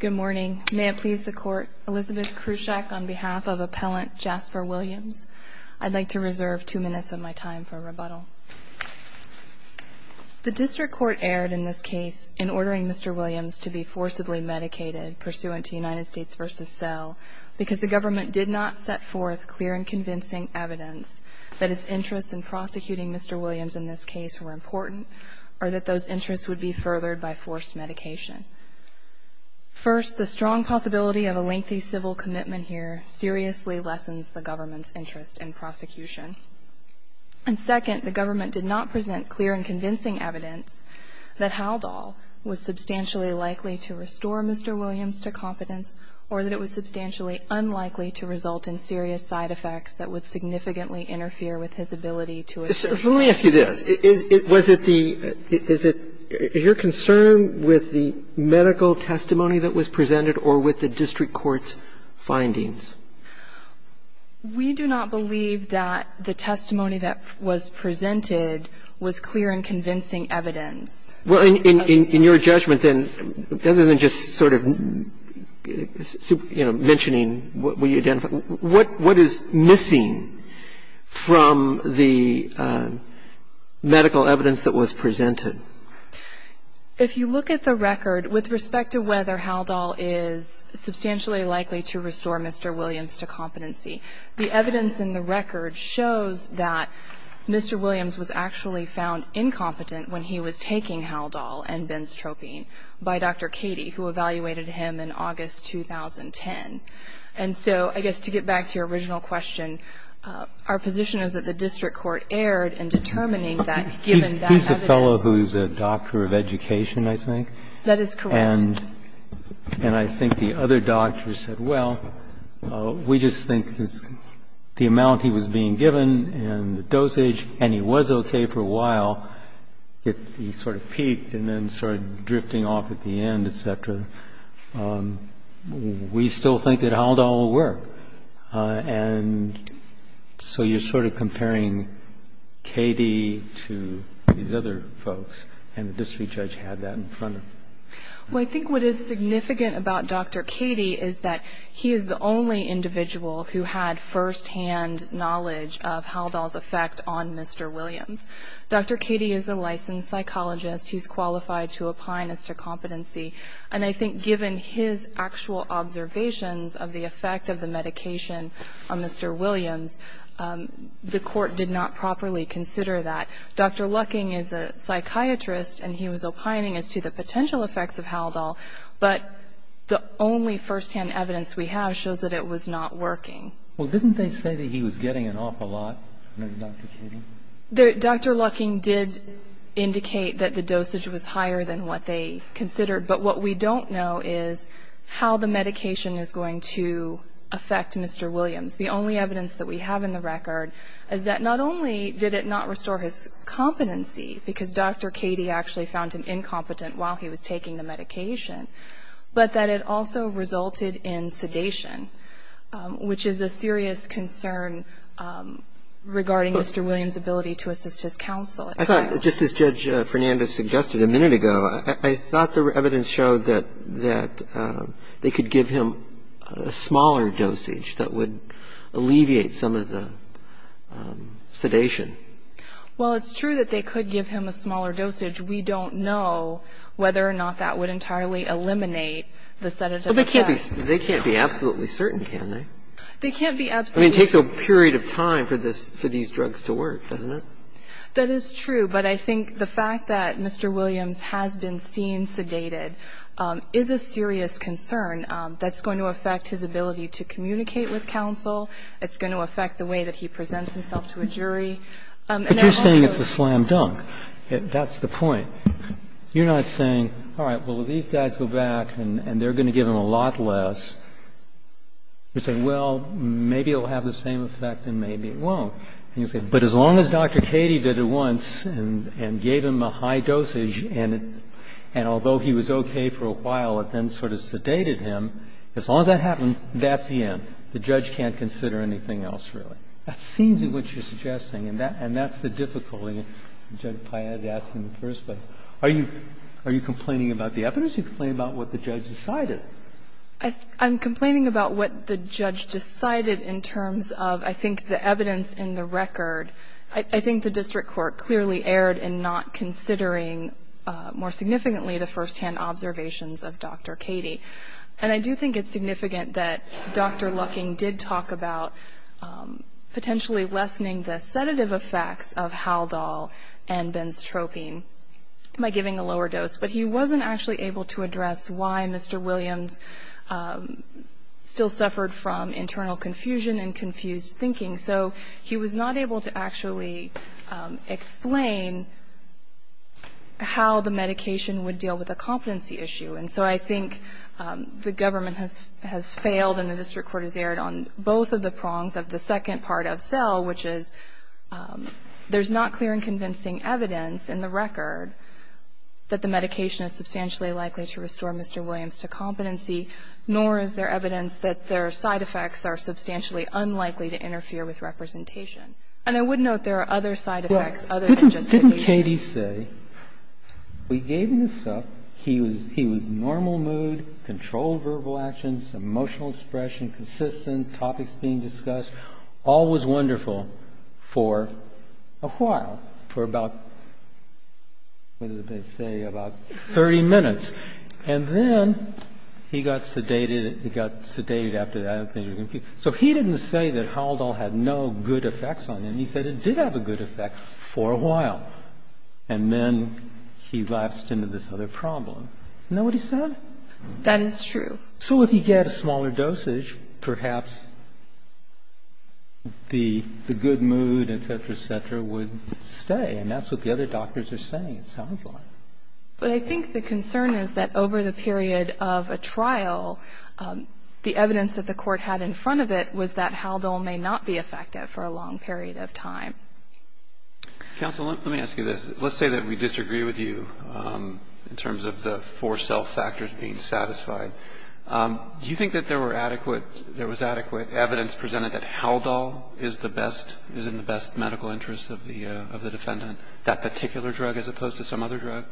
Good morning. May it please the Court, Elizabeth Krushak on behalf of Appellant Jasper Williams. I'd like to reserve two minutes of my time for rebuttal. The District Court erred in this case in ordering Mr. Williams to be forcibly medicated pursuant to United States v. Sell because the government did not set forth clear and convincing evidence that its interests in prosecuting Mr. Williams in this case were important or that those interests would be furthered by forced medication. First, the strong possibility of a lengthy civil commitment here seriously lessens the government's interest in prosecution. And second, the government did not present clear and convincing evidence that Haldol was substantially likely to restore Mr. Williams to competence or that it was substantially unlikely to result in serious side effects that would significantly interfere with his ability to assert himself. So let me ask you this. Is it the – is it – is your concern with the medical testimony that was presented or with the district court's findings? We do not believe that the testimony that was presented was clear and convincing evidence. Well, in your judgment, then, other than just sort of, you know, mentioning what we identified, what is missing from the medical evidence that was presented? If you look at the record, with respect to whether Haldol is substantially likely to restore Mr. Williams to competency, the evidence in the record shows that Mr. Williams was actually found incompetent when he was taking Haldol and benzotropine by Dr. Cady, who evaluated him in August 2010. And so I guess to get back to your original question, our position is that the district court erred in determining that, given that evidence. He's the fellow who's a doctor of education, I think. That is correct. And I think the other doctors said, well, we just think the amount he was being given and the dosage, and he was okay for a while, he sort of peaked and then started drifting off at the end, et cetera, we still think that Haldol will work. And so you're sort of comparing Cady to these other folks, and the district judge had that in front of them. Well, I think what is significant about Dr. Cady is that he is the only individual who had firsthand knowledge of Haldol's effect on Mr. Williams. Dr. Cady is a licensed psychologist. He's qualified to opine as to competency. And I think given his actual observations of the effect of the medication on Mr. Williams, the Court did not properly consider that. Dr. Lucking is a psychiatrist, and he was opining as to the potential effects of Haldol, but the only firsthand evidence we have shows that it was not working. Well, didn't they say that he was getting an awful lot from Dr. Cady? Dr. Lucking did indicate that the dosage was higher than what they considered, but what we don't know is how the medication is going to affect Mr. Williams. The only evidence that we have in the record is that not only did it not restore his competency, because Dr. Cady actually found him incompetent while he was taking the medication, but that it also resulted in sedation, which is a serious concern regarding Mr. Williams' ability to assist his counsel. I thought, just as Judge Fernandez suggested a minute ago, I thought the evidence showed that they could give him a smaller dosage that would alleviate some of the sedation. Well, it's true that they could give him a smaller dosage. We don't know whether or not that would entirely eliminate the sedative effect. Well, they can't be absolutely certain, can they? They can't be absolutely certain. I mean, it takes a period of time for these drugs to work, doesn't it? That is true, but I think the fact that Mr. Williams has been seen sedated is a serious concern that's going to affect his ability to communicate with counsel. It's going to affect the way that he presents himself to a jury. But you're saying it's a slam dunk. That's the point. You're not saying, all right, well, these guys go back and they're going to give him a lot less. You're saying, well, maybe it will have the same effect and maybe it won't. And you say, but as long as Dr. Cady did it once and gave him a high dosage and although he was okay for a while, it then sort of sedated him, as long as that happened, that's the end. The judge can't consider anything else, really. That seems to be what you're suggesting, and that's the difficulty that Judge Paez asked in the first place. Are you complaining about the evidence or are you complaining about what the judge decided? I'm complaining about what the judge decided in terms of, I think, the evidence in the record. I think the district court clearly erred in not considering more significantly the firsthand observations of Dr. Cady. And I do think it's significant that Dr. Lucking did talk about potentially lessening the sedative effects of Haldol and benzotropine by giving a lower dose. But he wasn't actually able to address why Mr. Williams still suffered from internal confusion and confused thinking. So he was not able to actually explain how the medication would deal with a competency issue. And so I think the government has failed and the district court has erred on both of the prongs of the second part of SELL, which is there's not clear and convincing evidence in the record that the medication is substantially likely to restore Mr. Williams to competency, nor is there evidence that their side effects are substantially unlikely to interfere with representation. And I would note there are other side effects other than just sedation. Well, didn't Cady say, we gave him this up, he was in a normal mood, controlled verbal actions, emotional expression, consistent, topics being discussed, all was wonderful for a while, for about, what did they say, about 30 minutes. And then he got sedated, he got sedated after that. So he didn't say that Haldol had no good effects on him. He said it did have a good effect for a while. And then he lapsed into this other problem. Isn't that what he said? That is true. So if he had a smaller dosage, perhaps the good mood, et cetera, et cetera, would stay. And that's what the other doctors are saying, it sounds like. But I think the concern is that over the period of a trial, the evidence that the court had in front of it was that Haldol may not be effective for a long period of time. Counsel, let me ask you this. Let's say that we disagree with you in terms of the four self-factors being satisfied. Do you think that there were adequate – there was adequate evidence presented that Haldol is the best – is in the best medical interest of the defendant, that particular drug as opposed to some other drug?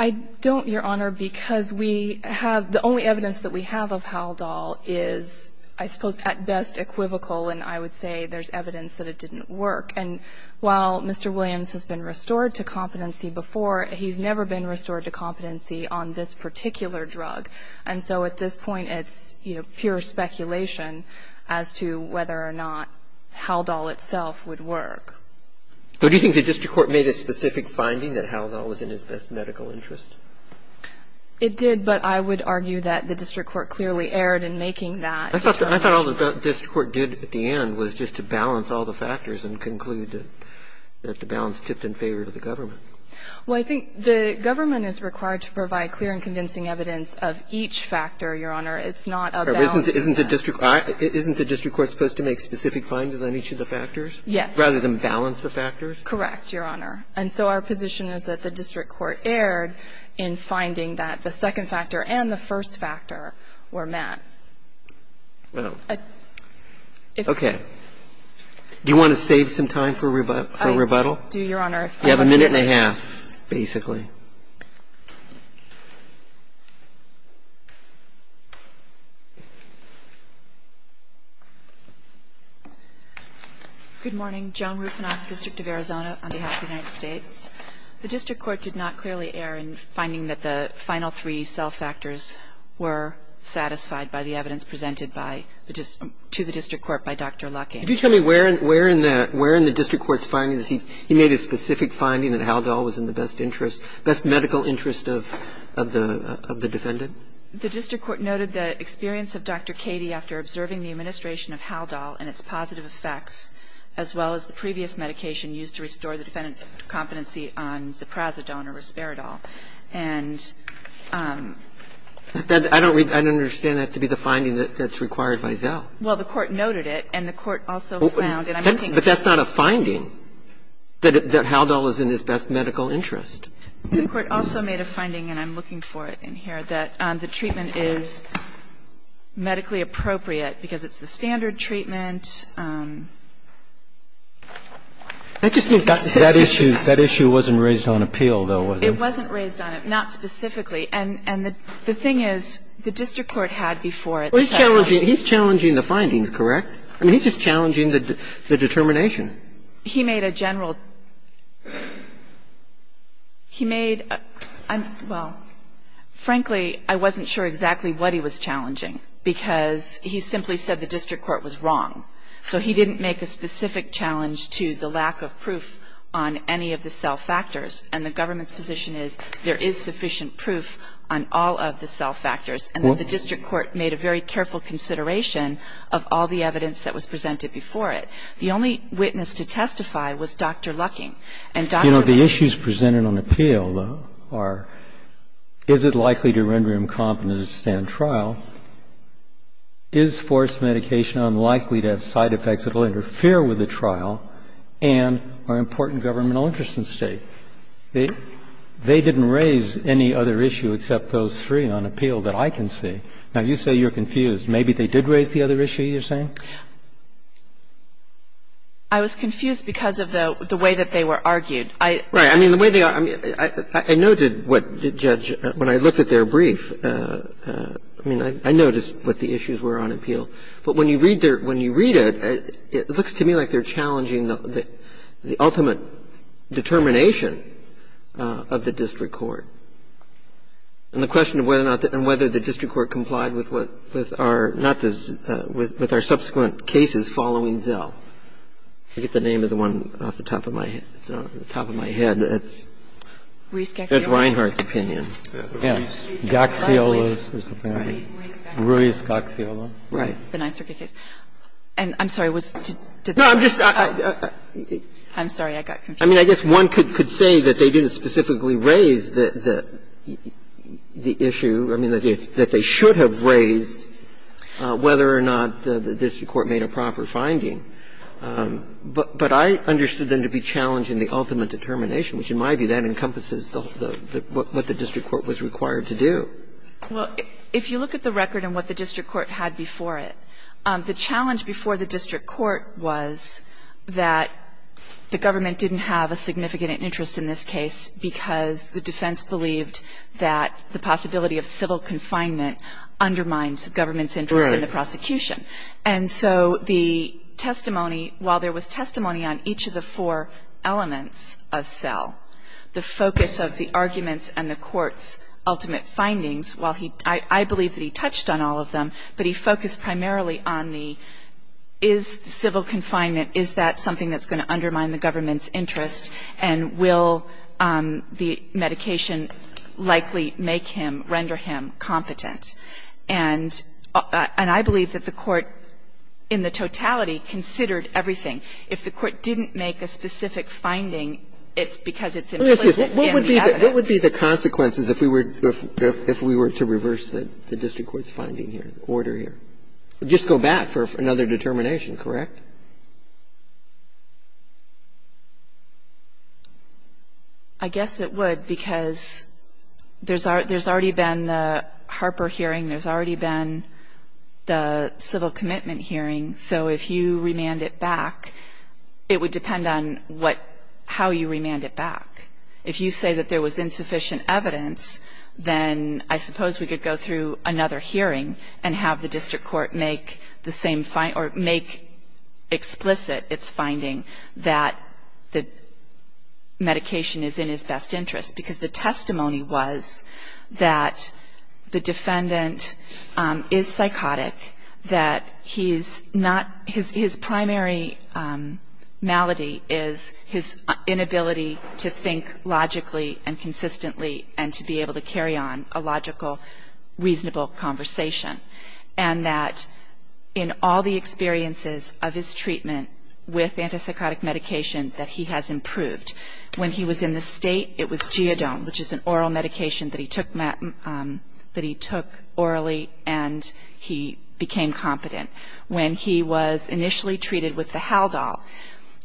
I don't, Your Honor, because we have – the only evidence that we have of Haldol is, I suppose, at best equivocal, and I would say there's evidence that it didn't work. And while Mr. Williams has been restored to competency before, he's never been restored to competency on this particular drug. And so at this point, it's, you know, pure speculation as to whether or not Haldol itself would work. So do you think the district court made a specific finding that Haldol was in his best medical interest? It did, but I would argue that the district court clearly erred in making that determination. I thought all the district court did at the end was just to balance all the factors and conclude that the balance tipped in favor of the government. Well, I think the government is required to provide clear and convincing evidence of each factor, Your Honor. It's not a balance. Isn't the district court supposed to make specific findings on each of the factors? Yes. Rather than balance the factors? Correct, Your Honor. And so our position is that the district court erred in finding that the second factor and the first factor were met. Well, okay. Do you want to save some time for rebuttal? I do, Your Honor. You have a minute and a half, basically. Good morning. Joan Rufinoff, District of Arizona, on behalf of the United States. The district court did not clearly err in finding that the final three cell factors were satisfied by the evidence presented by the district to the district court by Dr. Lucking. Could you tell me where in the district court's findings he made a specific finding that Haldol was in the best interest, best medical interest of the defendant? The district court noted the experience of Dr. Cady after observing the administration of Haldol and its positive effects, as well as the previous medication used to restore the defendant's competency on Ziprazidone or Risperidol. And I don't understand that to be the finding that's required by Zell. Well, the court noted it, and the court also found that I'm looking for it. But that's not a finding, that Haldol was in his best medical interest. The court also made a finding, and I'm looking for it in here, that the treatment is medically appropriate because it's the standard treatment. That just means that this issue's the standard treatment. That issue wasn't raised on appeal, though, was it? It wasn't raised on it, not specifically. And the thing is, the district court had before it the testimony. Well, he's challenging the findings, correct? I mean, he's just challenging the determination. He made a general – he made – well, frankly, I wasn't sure exactly what he was challenging, because he simply said the district court was wrong. So he didn't make a specific challenge to the lack of proof on any of the Zell factors. And the government's position is there is sufficient proof on all of the Zell factors. And then the district court made a very careful consideration of all the evidence that was presented before it. The only witness to testify was Dr. Lucking. And Dr. Lucking – You know, the issues presented on appeal, though, are is it likely to render him competent to stand trial? Is forced medication unlikely to have side effects that will interfere with the trial? And are important governmental interests at stake? They didn't raise any other issue except those three on appeal that I can see. Now, you say you're confused. Maybe they did raise the other issue you're saying? I was confused because of the way that they were argued. I – Right. I mean, the way they are – I noted what the judge – when I looked at their brief, I mean, I noticed what the issues were on appeal. But when you read their – when you read it, it looks to me like they're challenging the ultimate determination of the district court. And the question of whether or not the – and whether the district court complied with what – with our – not the – with our subsequent cases following Zell. I forget the name of the one off the top of my head. It's not on the top of my head. It's – Ruiz-Gaxiola. Judge Reinhardt's opinion. Yes. Ruiz-Gaxiola. Ruiz-Gaxiola. Right. The Ninth Circuit case. And I'm sorry, was – did the – No, I'm just – I'm sorry. I got confused. I mean, I guess one could say that they didn't specifically raise the issue. I mean, that they should have raised whether or not the district court made a proper finding. But I understood them to be challenging the ultimate determination, which in my view, that encompasses the – what the district court was required to do. Well, if you look at the record and what the district court had before it, the challenge before the district court was that the government didn't have a significant interest in this case because the defense believed that the possibility of civil confinement undermines the government's interest in the prosecution. And so the testimony – while there was testimony on each of the four elements of SELL, the focus of the arguments and the court's ultimate findings, while he – I believe that he touched on all of them, but he focused primarily on the, is civil confinement, is that something that's going to undermine the government's interest, and will the medication likely make him, render him competent. And I believe that the court in the totality considered everything. If the court didn't make a specific finding, it's because it's implicit in the evidence. What would be the consequences if we were to reverse the district court's finding here, the order here? Just go back for another determination, correct? I guess it would, because there's already been the Harper hearing. There's already been the civil commitment hearing. So if you remand it back, it would depend on what – how you remand it back. If you say that there was insufficient evidence, then I suppose we could go through another hearing and have the district court make the same – or make explicit its finding that the medication is in his best interest. Because the testimony was that the defendant is psychotic, that he's not – his primary malady is his inability to think logically and consistently, and to be able to carry on a logical, reasonable conversation. And that in all the experiences of his treatment with antipsychotic medication, that he has improved. When he was in the state, it was Geodone, which is an oral medication that he took – that he took orally, and he became competent. When he was initially treated with the Haldol,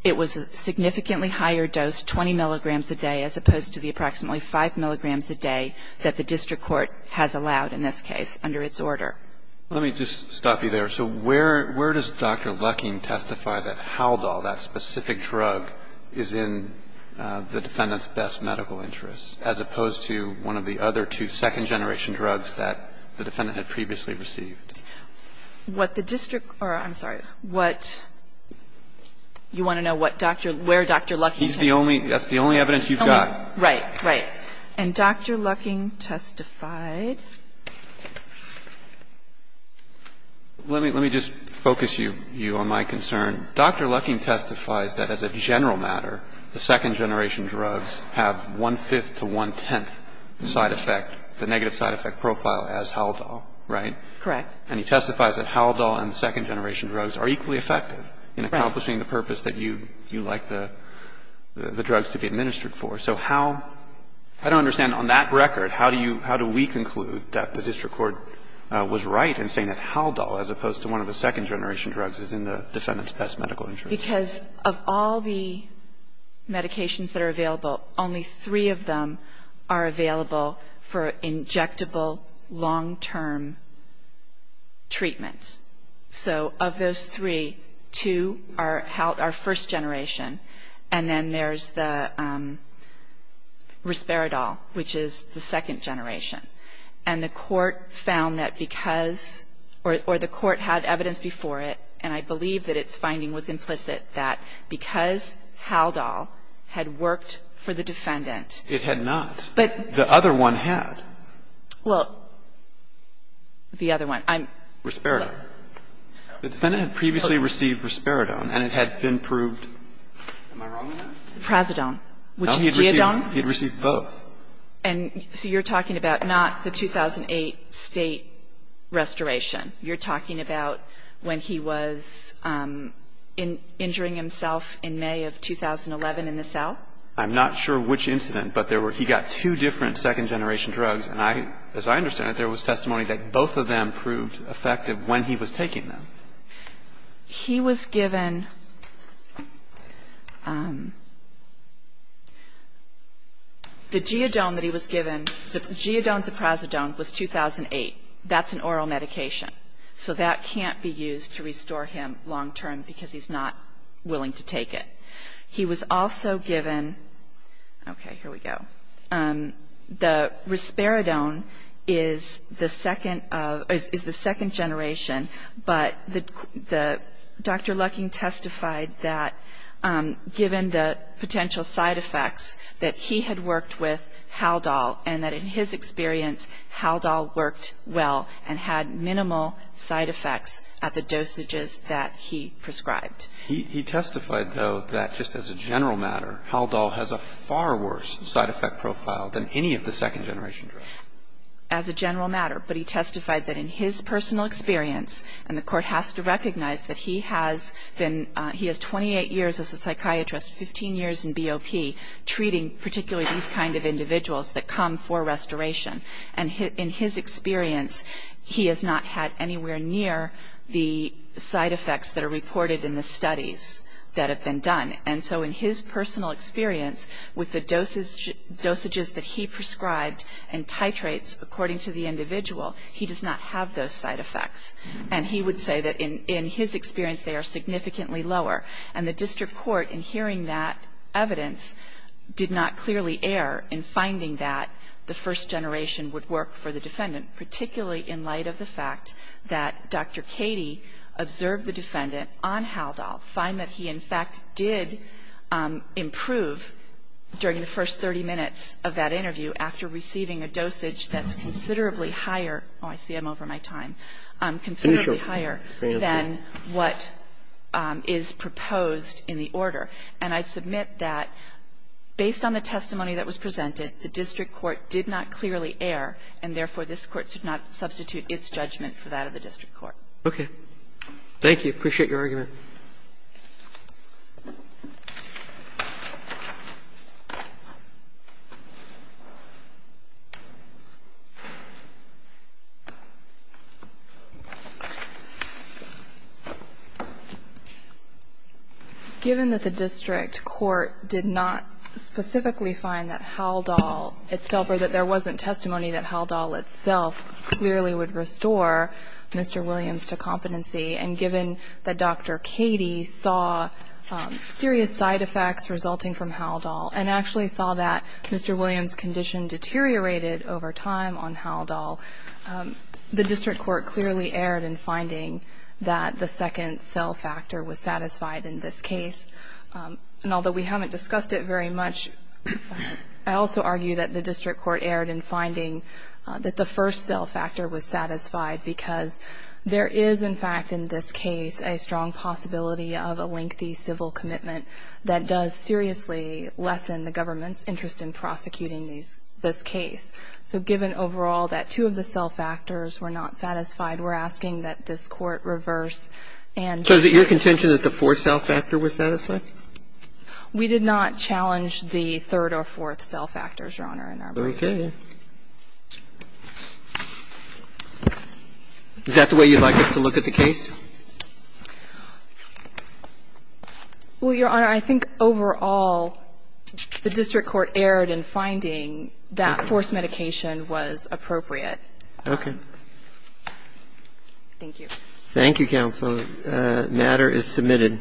it was a significantly higher dose, 20 milligrams a day, as opposed to the approximately 5 milligrams a day that the district court has allowed in this case under its order. Let me just stop you there. So where does Dr. Lucking testify that Haldol, that specific drug, is in the defendant's best medical interest, as opposed to one of the other two second-generation drugs that the defendant had previously received? What the district – or, I'm sorry, what – you want to know what Dr. – where Dr. Lucking testified? He's the only – that's the only evidence you've got. Right. Right. And Dr. Lucking testified? Let me – let me just focus you on my concern. Dr. Lucking testifies that as a general matter, the second-generation drugs have one-fifth to one-tenth side effect, the negative side effect profile as Haldol, right? Correct. And he testifies that Haldol and second-generation drugs are equally effective in accomplishing the purpose that you – you like the – the drugs to be administered for. So how – I don't understand. On that record, how do you – how do we conclude that the district court was right in saying that Haldol, as opposed to one of the second-generation drugs, is in the defendant's best medical interest? Because of all the medications that are available, only three of them are available for injectable, long-term treatment. So of those three, two are – are first-generation. And then there's the Risperidol, which is the second-generation. And the court found that because – or the court had evidence before it, and I believe that its finding was implicit, that because Haldol had worked for the defendant It had not. But The other one had. Well, the other one. I'm Risperidol. The defendant had previously received Risperidol, and it had been proved Am I wrong on that? Prazodone, which is Geodone. No, he had received both. And so you're talking about not the 2008 State restoration. You're talking about when he was injuring himself in May of 2011 in the cell? I'm not sure which incident, but there were – he got two different second-generation drugs. And I – as I understand it, there was testimony that both of them proved effective when he was taking them. He was given – the Geodone that he was given, Geodone-Prazodone, was 2008. That's an oral medication. So that can't be used to restore him long-term because he's not willing to take it. He was also given – okay, here we go. The Risperidone is the second generation, but Dr. Lucking testified that given the potential side effects that he had worked with Haldol and that in his experience Haldol worked well and had minimal side effects at the dosages that he prescribed. He testified, though, that just as a general matter, Haldol has a far worse side effect profile than any of the second-generation drugs. As a general matter, but he testified that in his personal experience, and the Court has to recognize that he has been – he has 28 years as a psychiatrist, 15 years in BOP, treating particularly these kind of individuals that come for restoration. And in his experience, he has not had anywhere near the side effects that are reported in the studies that have been done. And so in his personal experience, with the dosages that he prescribed and titrates according to the individual, he does not have those side effects. And he would say that in his experience they are significantly lower. And the District Court, in hearing that evidence, did not clearly err in finding that the first generation would work for the defendant, particularly in light of the fact that Dr. Cady observed the defendant on Haldol, find that he in fact did improve during the first 30 minutes of that interview after receiving a dosage that's considerably higher – oh, I see I'm over my time – considerably higher than what is proposed in the order. And I submit that based on the testimony that was presented, the District Court did not clearly err, and therefore, this Court should not substitute its judgment for that of the District Court. Roberts. Thank you. I appreciate your argument. Given that the District Court did not specifically find that Haldol itself or that there wasn't testimony that Haldol itself clearly would restore Mr. Williams to competency, and given that Dr. Cady saw serious side effects resulting from Haldol and actually saw that Mr. Williams' condition deteriorated over time on Haldol, the District Court clearly erred in finding that the second cell factor was satisfied in this case. And although we haven't discussed it very much, I also argue that the District Court erred in finding that the first cell factor was satisfied because there is in fact in this case a strong possibility of a lengthy civil commitment that does seriously lessen the government's interest in prosecuting this case. So given overall that two of the cell factors were not satisfied, we're asking that this Court reverse and So is it your contention that the fourth cell factor was satisfied? We did not challenge the third or fourth cell factors, Your Honor, in our brief. Okay. Is that the way you'd like us to look at the case? Well, Your Honor, I think overall the District Court erred in finding that forced medication was appropriate. Okay. Thank you. Thank you, Counsel. The matter is submitted.